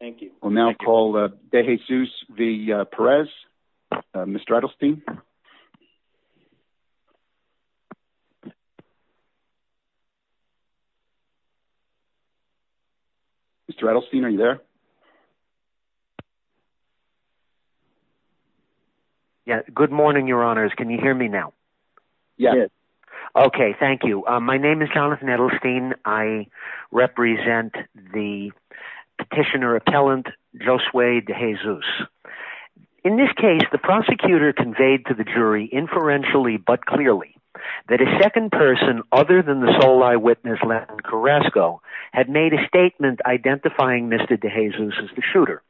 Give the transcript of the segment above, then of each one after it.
Thank you. We'll now call DeJesus v. Perez. Mr. Edelstein. Mr. Edelstein, are you there? Yes, good morning, Your Honors. Can you hear me now? Yes. Okay, thank you. My name is Jonathan Edelstein. I represent the petitioner-appellant Josue DeJesus. In this case, the prosecutor conveyed to the jury, inferentially but clearly, that a second person, other than the sole eyewitness, Latin Carrasco, had made a statement identifying Mr. DeJesus as the shooter.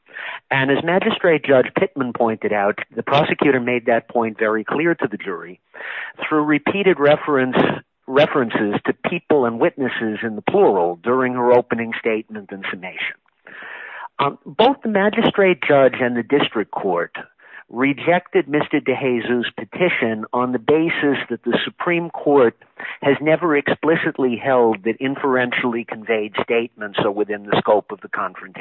And as Magistrate Judge Pittman pointed out, the prosecutor made that point very clear to the jury through repeated references to people and witnesses in the plural during her opening statement and summation. Both the Magistrate Judge and the District Court rejected Mr. DeJesus' petition on the basis that the Supreme Court has never explicitly held that inferentially conveyed statements are within the scope of conflated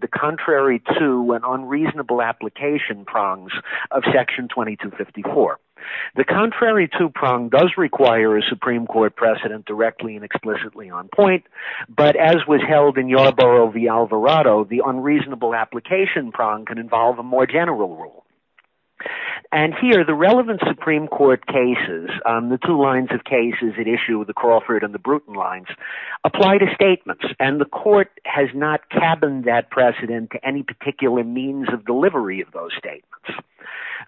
the contrary to and unreasonable application prongs of Section 2254. The contrary to prong does require a Supreme Court precedent directly and explicitly on point, but as was held in Yarborough v. Alvarado, the unreasonable application prong can involve a more general rule. And here, the relevant Supreme Court cases, the two lines of cases at issue, the Crawford and the Bruton lines, apply to statements, and the Court has not cabined that precedent to any particular means of delivery of those statements.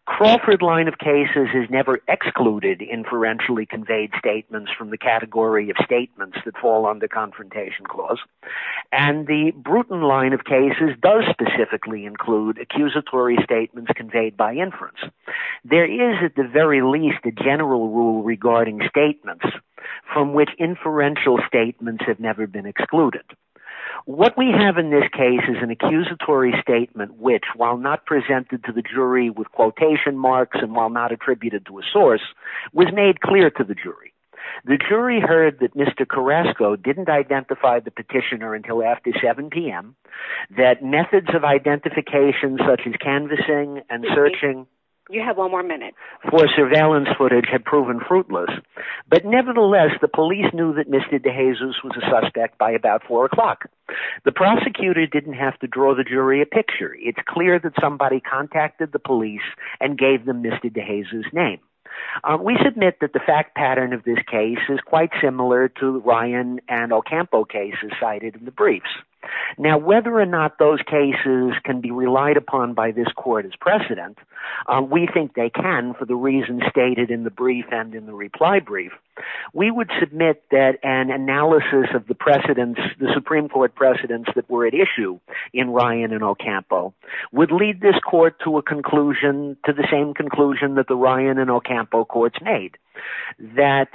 The Crawford line of cases has never excluded inferentially conveyed statements from the category of statements that fall under confrontation clause, and the Bruton line of cases does specifically include accusatory statements conveyed by inference. There is, at the very least, a general rule regarding statements from which inferential statements have never been excluded. What we have in this case is an accusatory statement which, while not presented to the jury with quotation marks and while not attributed to a source, was made clear to the jury. The jury heard that Mr. Carrasco didn't identify the petitioner until after 7 p.m., that methods of identification such as canvassing and searching for surveillance footage had proven fruitless. But nevertheless, the police knew that Mr. DeJesus was a suspect by about 4 o'clock. The prosecutor didn't have to draw the jury a picture. It's clear that somebody contacted the police and gave them Mr. DeJesus' name. We submit that the fact pattern of this case is quite similar to Ryan and Ocampo cases cited in the briefs. Now, whether or not those cases can be relied upon by this Court as precedent, we think they can for the reasons stated in the brief and in the reply brief. We would submit that an analysis of the precedents, the Supreme Court precedents that were at issue in Ryan and Ocampo would lead this Court to a conclusion, to the same conclusion that the Ryan and Ocampo courts made, that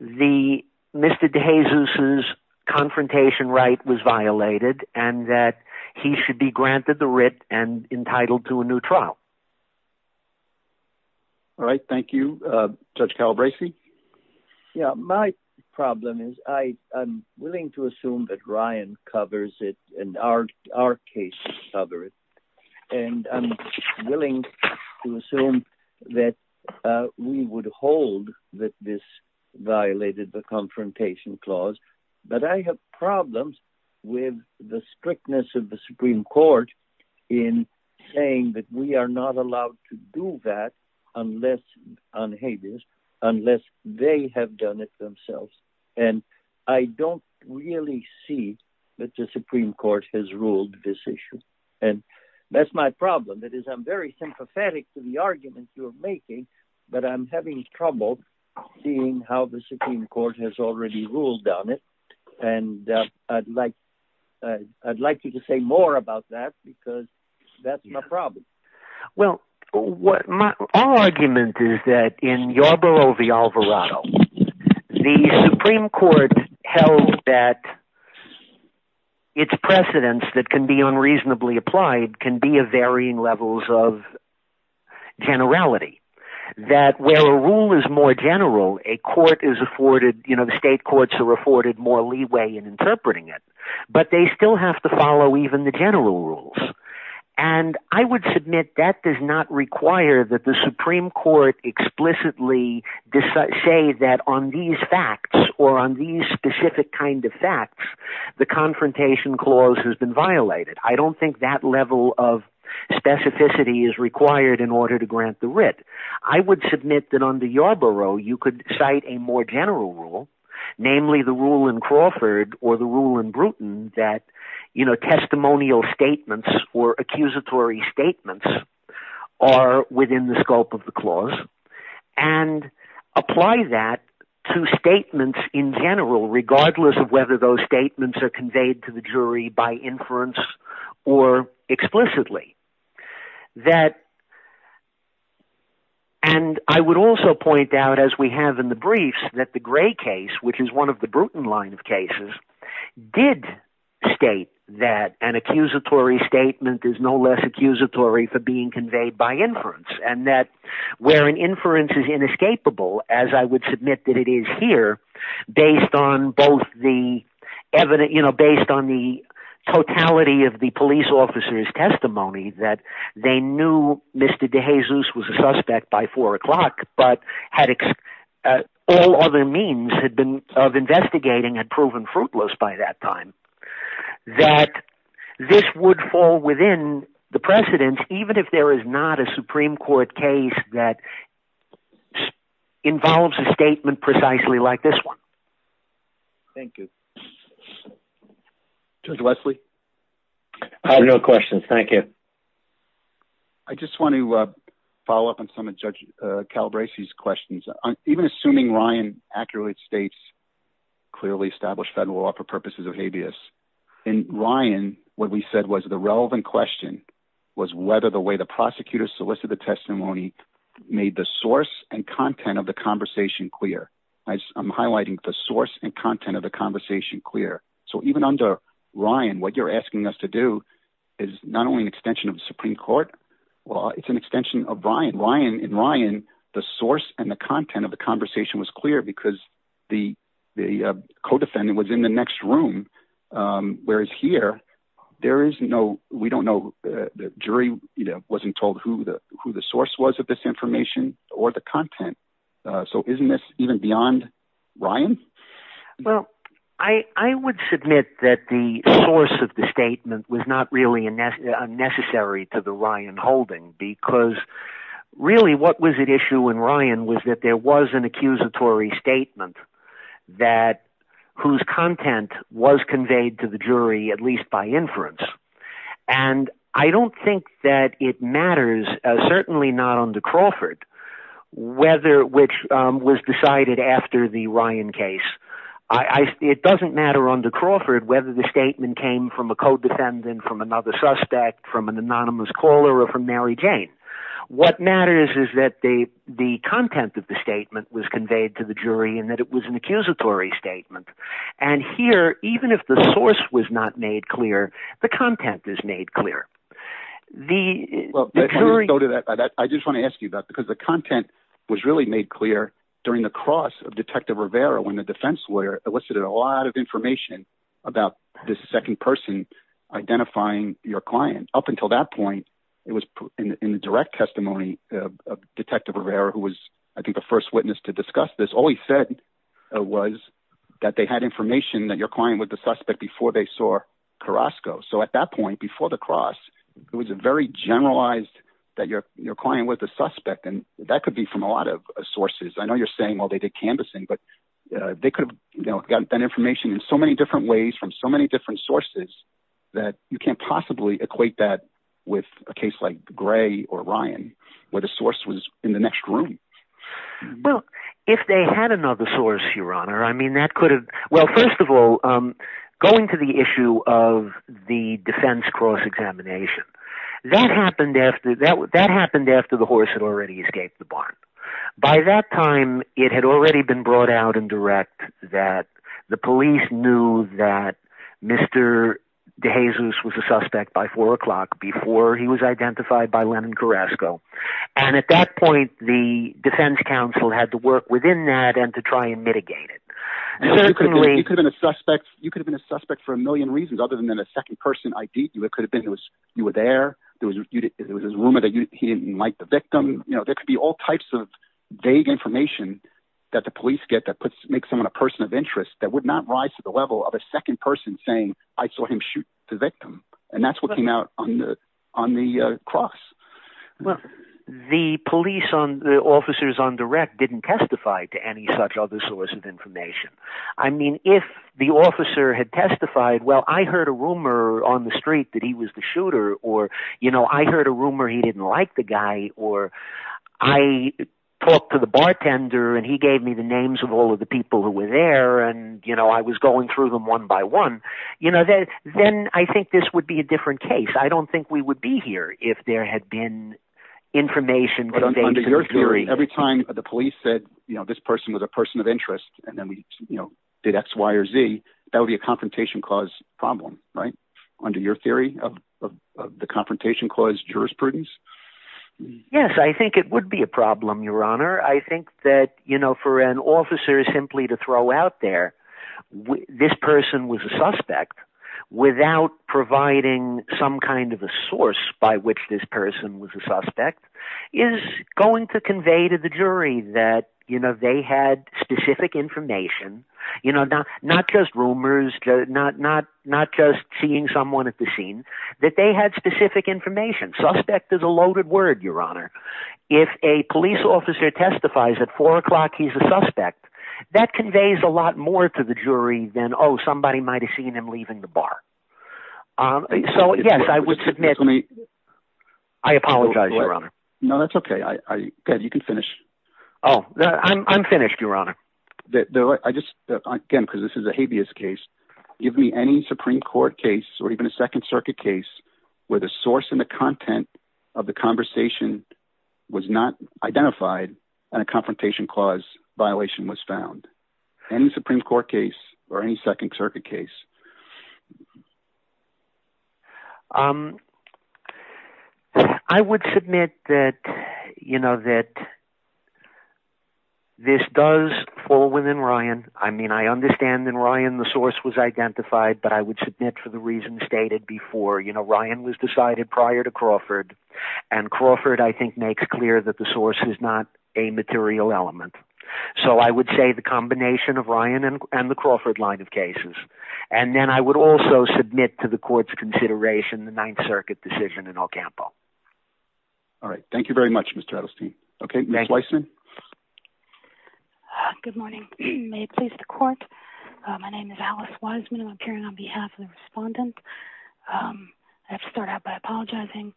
Mr. DeJesus' confrontation right was violated and that he should be granted the writ and entitled to a new trial. All right. Thank you. Judge Calabresi? Yeah. My problem is I'm willing to assume that Ryan covers it and our cases cover it. And I'm willing to assume that we would hold that this violated the confrontation clause. But I have not allowed to do that unless they have done it themselves. And I don't really see that the Supreme Court has ruled this issue. And that's my problem. That is, I'm very sympathetic to the argument you're making, but I'm having trouble seeing how the Supreme Court has already ruled on it. And I'd like you to say more about that because that's my problem. Well, my argument is that in Yarbrough v. Alvarado, the Supreme Court held that its precedents that can be unreasonably applied can be of varying levels of generality. That where a rule is more general, a court is afforded, you know, state courts are afforded more leeway in interpreting it, but they still have to follow even the general rules. And I would submit that does not require that the Supreme Court explicitly say that on these facts or on these specific kind of facts, the confrontation clause has been violated. I don't think that level of specificity is required in order to grant the writ. I would submit that under Yarbrough, you could cite a more general rule, namely the rule in Crawford or the rule in Bruton that, you know, testimonial statements or accusatory statements are within the scope of the clause and apply that to statements in general, regardless of whether those statements are conveyed to the jury by inference or explicitly. And I would also point out, as we have in the briefs, that the Gray case, which is one of the Bruton line of cases, did state that an accusatory statement is no less accusatory for being conveyed by inference, and that where an based on the totality of the police officer's testimony, that they knew Mr. DeJesus was a suspect by four o'clock, but all other means of investigating had proven fruitless by that time, that this would fall within the precedence, even if there is not a Supreme Court case that involves a statement precisely like this one. Thank you. Judge Wesley? I have no questions. Thank you. I just want to follow up on some of Judge Calabresi's questions. Even assuming Ryan accurately states clearly established federal law for purposes of habeas, in Ryan, what we said was the relevant question was whether the way the prosecutor solicited the testimony made the source and content of the conversation clear. I'm highlighting the source and content of the conversation clear. So even under Ryan, what you're asking us to do is not only an extension of the Supreme Court, well, it's an extension of Ryan. In Ryan, the source and the content of the conversation was clear because the co-defendant was in the next room, whereas here, there is no, we don't know, the jury wasn't told who the source was of this information or the content. So isn't this even beyond Ryan? Well, I would submit that the source of the statement was not really unnecessary to the Ryan holding because really what was at issue in Ryan was that there was an accusatory statement that whose content was conveyed to the jury, at least by inference. And I don't think that it matters, certainly not under Crawford, whether which was decided after the Ryan case. It doesn't matter under Crawford whether the statement came from a co-defendant, from another suspect, from an anonymous caller, or from Mary Jane. What matters is that the content of the statement was an accusatory statement. And here, even if the source was not made clear, the content is made clear. I just want to ask you that because the content was really made clear during the cross of Detective Rivera when the defense lawyer elicited a lot of information about this second person identifying your client. Up until that point, it was in the direct testimony of Detective Rivera, who was, I think, the first witness to discuss this. All he said was that they had information that your client was the suspect before they saw Carrasco. So at that point, before the cross, it was a very generalized that your client was the suspect. And that could be from a lot of sources. I know you're saying, well, they did canvassing, but they could have gotten that information in so many different ways from so many different sources that you can't like Gray or Ryan, where the source was in the next room. Well, if they had another source, Your Honor, I mean, that could have, well, first of all, going to the issue of the defense cross examination, that happened after the horse had already escaped the barn. By that time, it had already been brought out in direct that the police knew that Mr. DeJesus was a suspect by 4 o'clock before he was identified by Lennon Carrasco. And at that point, the defense council had to work within that and to try and mitigate it. You could have been a suspect. You could have been a suspect for a million reasons other than a second person ID. It could have been you were there. There was a rumor that he didn't like the victim. There could be all types of vague information that the police get that makes someone a person of interest that would not rise to the on the cross. Well, the police on the officers on direct didn't testify to any such other source of information. I mean, if the officer had testified, well, I heard a rumor on the street that he was the shooter or, you know, I heard a rumor he didn't like the guy or I talked to the bartender and he gave me the names of all of the people who were there. And, you know, I was going through them one by one. You know, then I think this would be a different case. I don't think we would be here if there had been information. Every time the police said, you know, this person was a person of interest and then, you know, did X, Y or Z. That would be a confrontation cause problem, right? Under your theory of the confrontation cause jurisprudence. Yes, I think it would be a problem, your honor. I think that, you know, for an officer is simply to throw out there this person was a suspect without providing some kind of a source by which this person was a suspect is going to convey to the jury that, you know, they had specific information, you know, not just rumors, not, not, not just seeing someone at the scene that they had specific information. Suspect is a loaded word, your honor. If a police officer testifies at four o'clock, he's a suspect that conveys a lot more to the jury than, oh, somebody might've seen him leaving the bar. Um, so yes, I would submit to me. I apologize, your honor. No, that's okay. I, I, good. You can finish. Oh, I'm, I'm finished, your honor. I just, again, because this is a habeas case. Give me any Supreme court case or even a second circuit case where the source and the violation was found and the Supreme court case or any second circuit case. Um, I would submit that, you know, that this does fall within Ryan. I mean, I understand that Ryan, the source was identified, but I would submit for the reasons stated before, you know, Ryan was decided prior to Crawford and Crawford, I think makes clear that the source is not a material element. So I would say the combination of Ryan and, and the Crawford line of cases. And then I would also submit to the court's consideration, the ninth circuit decision in El Campo. All right. Thank you very much, Mr. Edelstein. Okay. Ms. Wiseman. Good morning. May it please the court. My name is Alice Wiseman. I'm appearing on behalf of the respondent. Um, I have to start out by apologizing.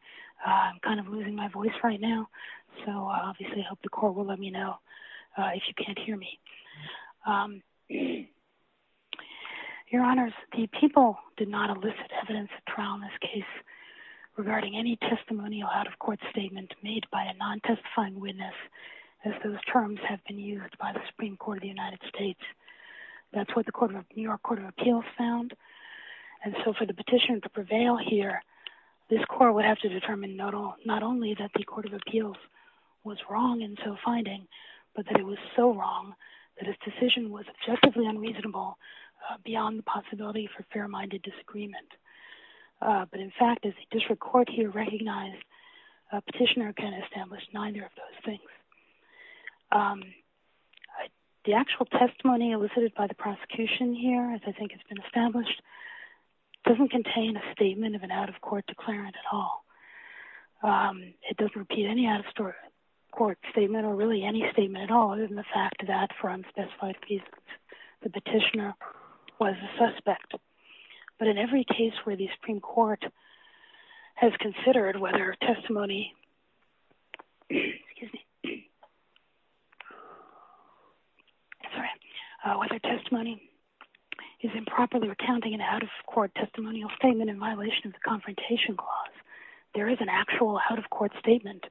I'm kind of losing my voice right now. So obviously I hope the court will let me know if you can't hear me. Um, your honors, the people did not elicit evidence trial in this case regarding any testimonial out-of-court statement made by a non-testifying witness as those terms have been used by the Supreme court of the United States. That's what the court of New York court of appeals found. And so for the petition to prevail here, this court would have to determine not all, that the court of appeals was wrong until finding, but that it was so wrong that his decision was objectively unreasonable beyond the possibility for fair-minded disagreement. But in fact, as a district court here recognized a petitioner can establish neither of those things. The actual testimony elicited by the prosecution here, as I think it's been established, doesn't contain a statement of an out-of-court declarant at all. Um, it doesn't repeat any out-of-story court statement or really any statement at all. Other than the fact that for unspecified reasons, the petitioner was a suspect, but in every case where the Supreme court has considered whether testimony, excuse me, whether testimony is improperly recounting an out-of-court testimonial statement in there is an actual out-of-court statement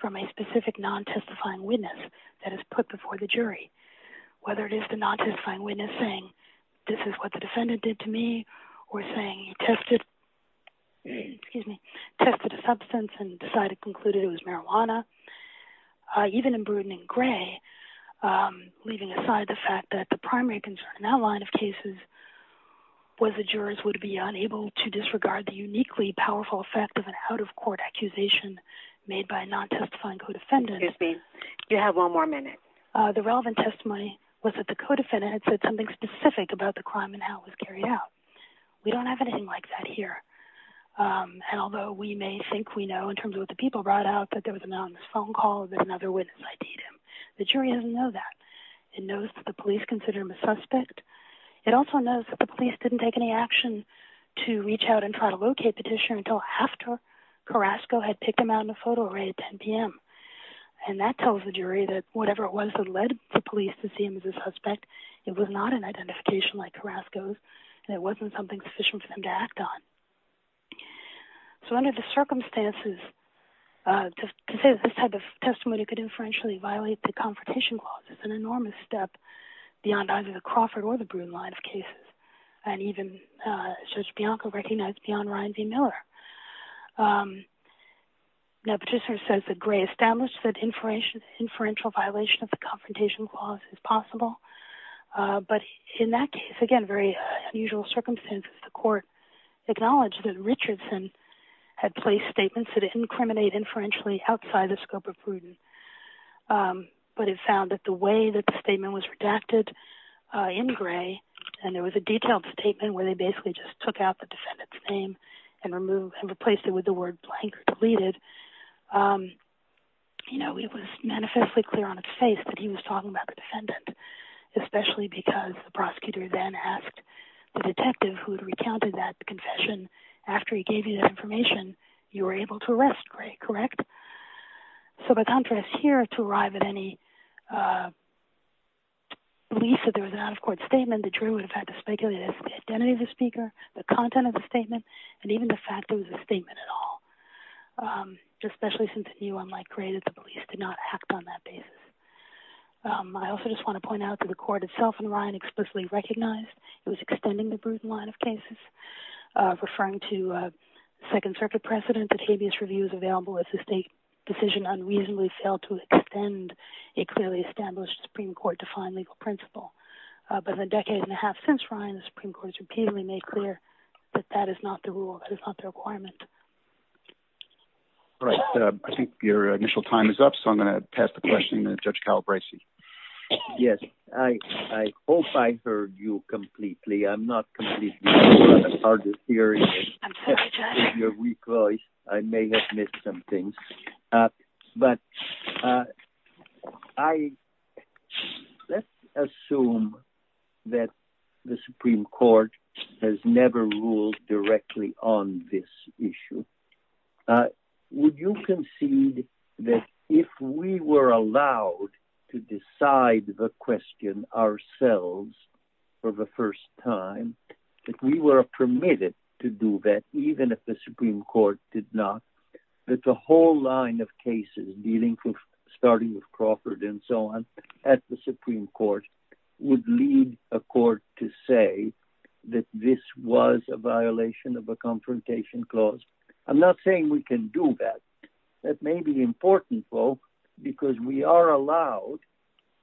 from a specific non-testifying witness that is put before the jury. Whether it is the non-testifying witness saying, this is what the defendant did to me or saying, he tested, excuse me, tested a substance and decided, concluded it was marijuana. Even in Bruton and Gray, um, leaving aside the fact that the primary concern in that line of cases was the jurors would be unable to disregard the uniquely powerful effect of an out-of-court accusation made by a non-testifying co-defendant. Excuse me, you have one more minute. Uh, the relevant testimony was that the co-defendant had said something specific about the crime and how it was carried out. We don't have anything like that here. Um, and although we may think we know in terms of what the people brought out, that there was a man on this phone call that another witness ID'd him. The jury doesn't know that. It knows that the police consider him a suspect. It also knows that the police didn't take any action to reach out and locate Petitioner until after Carrasco had picked him out in a photo array at 10 p.m. And that tells the jury that whatever it was that led the police to see him as a suspect, it was not an identification like Carrasco's and it wasn't something sufficient for them to act on. So under the circumstances, uh, to say this type of testimony could inferentially violate the Confrontation Clause is an enormous step beyond either the Crawford or the Bruton line of Ron Ryan v. Miller. Um, now Petitioner says that Gray established that inferential violation of the Confrontation Clause is possible. Uh, but in that case, again, very unusual circumstances, the court acknowledged that Richardson had placed statements that incriminate inferentially outside the scope of Bruton. Um, but it found that the way that the statement was redacted in Gray and there was a detailed statement where they basically just took out the defendant's name and replaced it with the word blank or deleted, um, you know, it was manifestly clear on its face that he was talking about the defendant, especially because the prosecutor then asked the detective who had recounted that confession, after he gave you that information, you were able to arrest Gray, correct? So by contrast here, to arrive at any, uh, belief that there was an out-of-court statement that Drew would have had to speculate the identity of the speaker, the content of the statement, and even the fact it was a statement at all. Um, especially since it knew, unlike Gray, that the police did not act on that basis. Um, I also just want to point out that the court itself and Ryan explicitly recognized it was extending the Bruton line of cases, uh, referring to, uh, Second Circuit precedent that habeas review is available if the state decision unreasonably failed to extend a clearly established Supreme Court-defined legal principle. Uh, but in a decade and a half since Ryan, the Supreme Court has repeatedly made clear that that is not the rule, that is not the requirement. All right, uh, I think your initial time is up, so I'm going to pass the question to Judge Kyle Bricey. Yes, I, I hope I heard you completely. I'm not completely sure about the theory. If you're weak-voiced, I may have missed some things. Uh, but, uh, I, let's assume that the Supreme Court has never ruled directly on this issue. Uh, would you concede that if we were allowed to decide the question ourselves for the first time, that we were permitted to do that, even if the Supreme Court did not, that the whole line of cases dealing with, starting with Crawford and so on, at the Supreme Court would lead a court to say that this was a violation of a confrontation clause? I'm not saying we can do that. That may be important, though, because we are allowed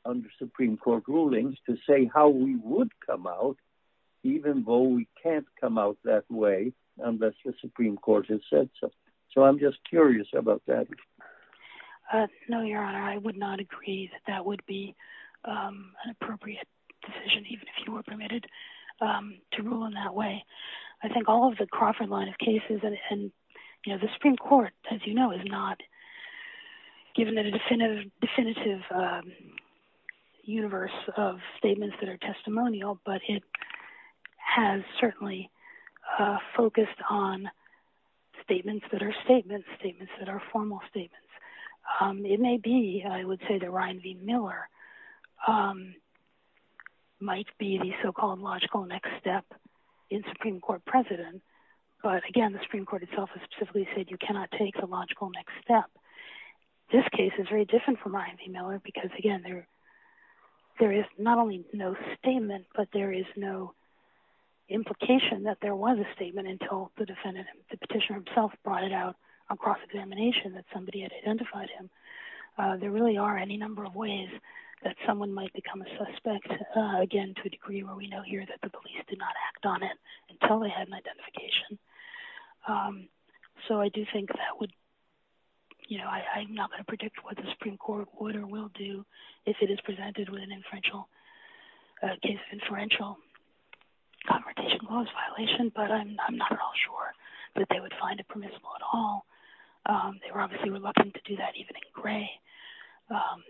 under Supreme Court rulings to say how we would come out, even though we can't come out that way unless the Supreme Court has said so. So, I'm just curious about that. Uh, no, Your Honor, I would not agree that that would be, um, an appropriate decision, even if you were permitted, um, to rule in that way. I think all of the Crawford line of cases and, you know, the Supreme Court, as you know, is not given a definitive, um, universe of statements that are testimonial, but it has certainly, uh, focused on statements that are statements, statements that are formal statements. Um, it may be, I would say that Ryan v. Miller, um, might be the so-called logical next step in Supreme Court precedent, but again, the Supreme Court itself has specifically said you cannot take the logical next step. This case is very different from Ryan v. Miller because, again, there, there is not only no statement, but there is no implication that there was a statement until the defendant, the petitioner himself brought it out on cross-examination that somebody had identified him. Uh, there really are any number of ways that someone might become a suspect, uh, again, to a degree where we know here that the police did not act on it until they had an identification. Um, so I do think that would, you know, I, I'm not going to predict what the Supreme Court would or will do if it is presented with an inferential, uh, case of inferential confrontation clause violation, but I'm, I'm not at all sure that they would find it permissible at all. Um, they were obviously reluctant to do that even in gray. Um,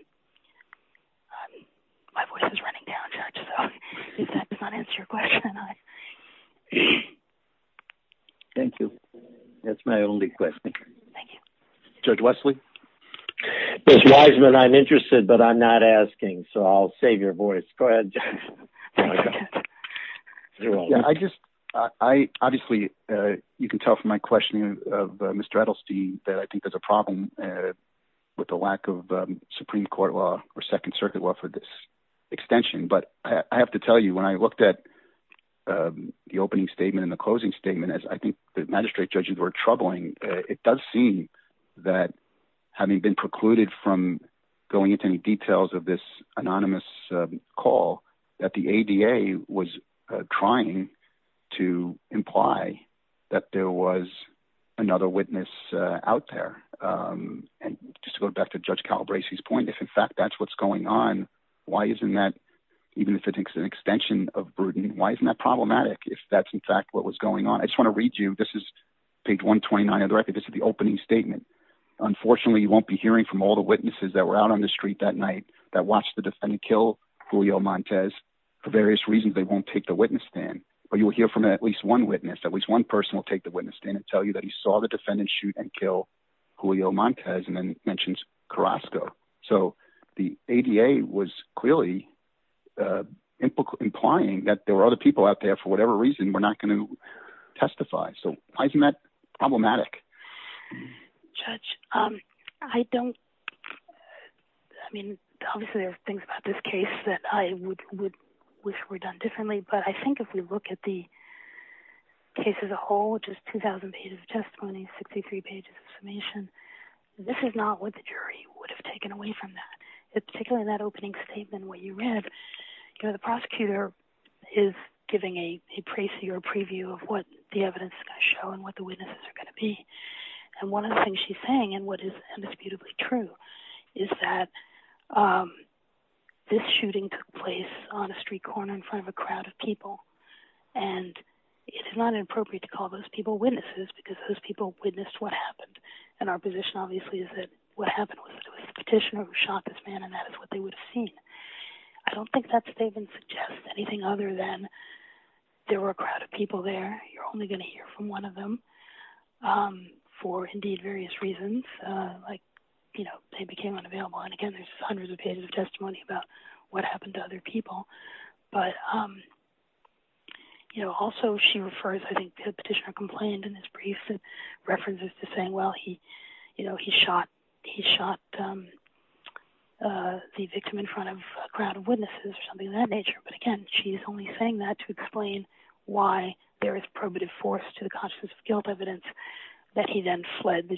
um, my voice is running out. So if that does not answer your question, thank you. That's my only question. Thank you. Judge Wesley, I'm interested, but I'm not asking. So I'll save your voice. Go ahead. I just, I obviously, uh, you can tell from my questioning of Mr. Edelstein that I think there's a problem, uh, with the lack of, um, Supreme Court law or second circuit law for this extension. But I have to tell you, when I looked at, um, the opening statement and the closing statement, as I think the magistrate judges were troubling, uh, it does seem that having been precluded from going into any details of this anonymous call that the ADA was trying to imply that there was another witness out there. Um, and just to go back to judge Calabrese's point, if in fact that's what's going on, why isn't that, even if it's an extension of burden, why isn't that problematic? If that's in fact what was going on, I just want to read you, this is page one 29 of the record. This is the opening statement. Unfortunately, you won't be hearing from all the witnesses that were out on the street that night that watched the defendant kill Julio Montez for various reasons. They won't take the witness stand, but you will hear from at least one witness. At least one person will take the witness stand and tell you that he saw the defendant shoot and kill Julio Montez and then mentions Carrasco. So the ADA was clearly, uh, implying that there were other people out there for whatever reason, we're not going to testify. So why isn't that problematic? Judge, um, I don't, I mean, obviously there's things about this case that I would wish were done differently, but I think if we look at the case as a whole, which is 2000 pages of testimony, 63 pages of summation, this is not what the jury would have taken away from that. Particularly in that opening statement, what you read, you know, the prosecutor is giving a, a preview of what the evidence is going to show and what the witnesses are going to be. And one of the things she's saying and what is indisputably true is that, um, this shooting took place on a street corner in front of a crowd of people. And it is not inappropriate to call those people witnesses because those people witnessed what happened. And our position obviously is that what happened was a petitioner who shot this man. And that is what they would have seen. I don't think that statement suggests anything other than there were a crowd of people there. You're only going to hear from one of them, um, for indeed various reasons, uh, like, you know, they became unavailable. And again, there's hundreds of pages of testimony about what happened to other people. But, um, you know, also she refers, I think the petitioner complained in his briefs and references to saying, well, he, you know, he shot, he shot, um, uh, the victim in front of a crowd of witnesses or something of that nature. But again, she's only saying that to explain why there is probative force to the consciousness of guilt evidence that he then fled the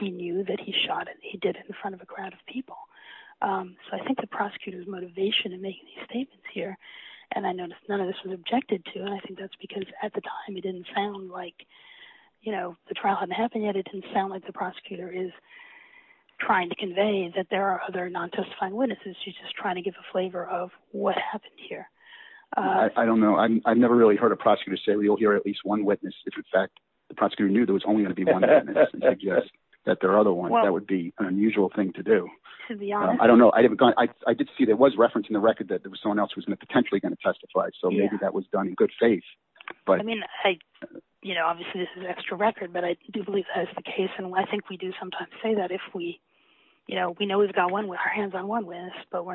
he knew that he shot it. He did it in front of a crowd of people. Um, so I think the prosecutor's motivation in making these statements here, and I noticed none of this was objected to. And I think that's because at the time it didn't sound like, you know, the trial hadn't happened yet. It didn't sound like the prosecutor is trying to convey that there are other non-justifying witnesses. She's just trying to give a flavor of what happened here. Uh, I don't know. I've never really heard a prosecutor say, well, you'll hear at least one witness. If in fact the prosecutor knew there was only going to be one that there are other ones, that would be an unusual thing to do. I don't know. I haven't gone. I did see that was referencing the record that there was someone else who was going to potentially going to testify. So maybe that was done in good faith, but I mean, I, you know, obviously this is an extra record, but I do believe that's the case. And I think we do sometimes say that if we, you know, we know we've got one with our hands on one but we're not.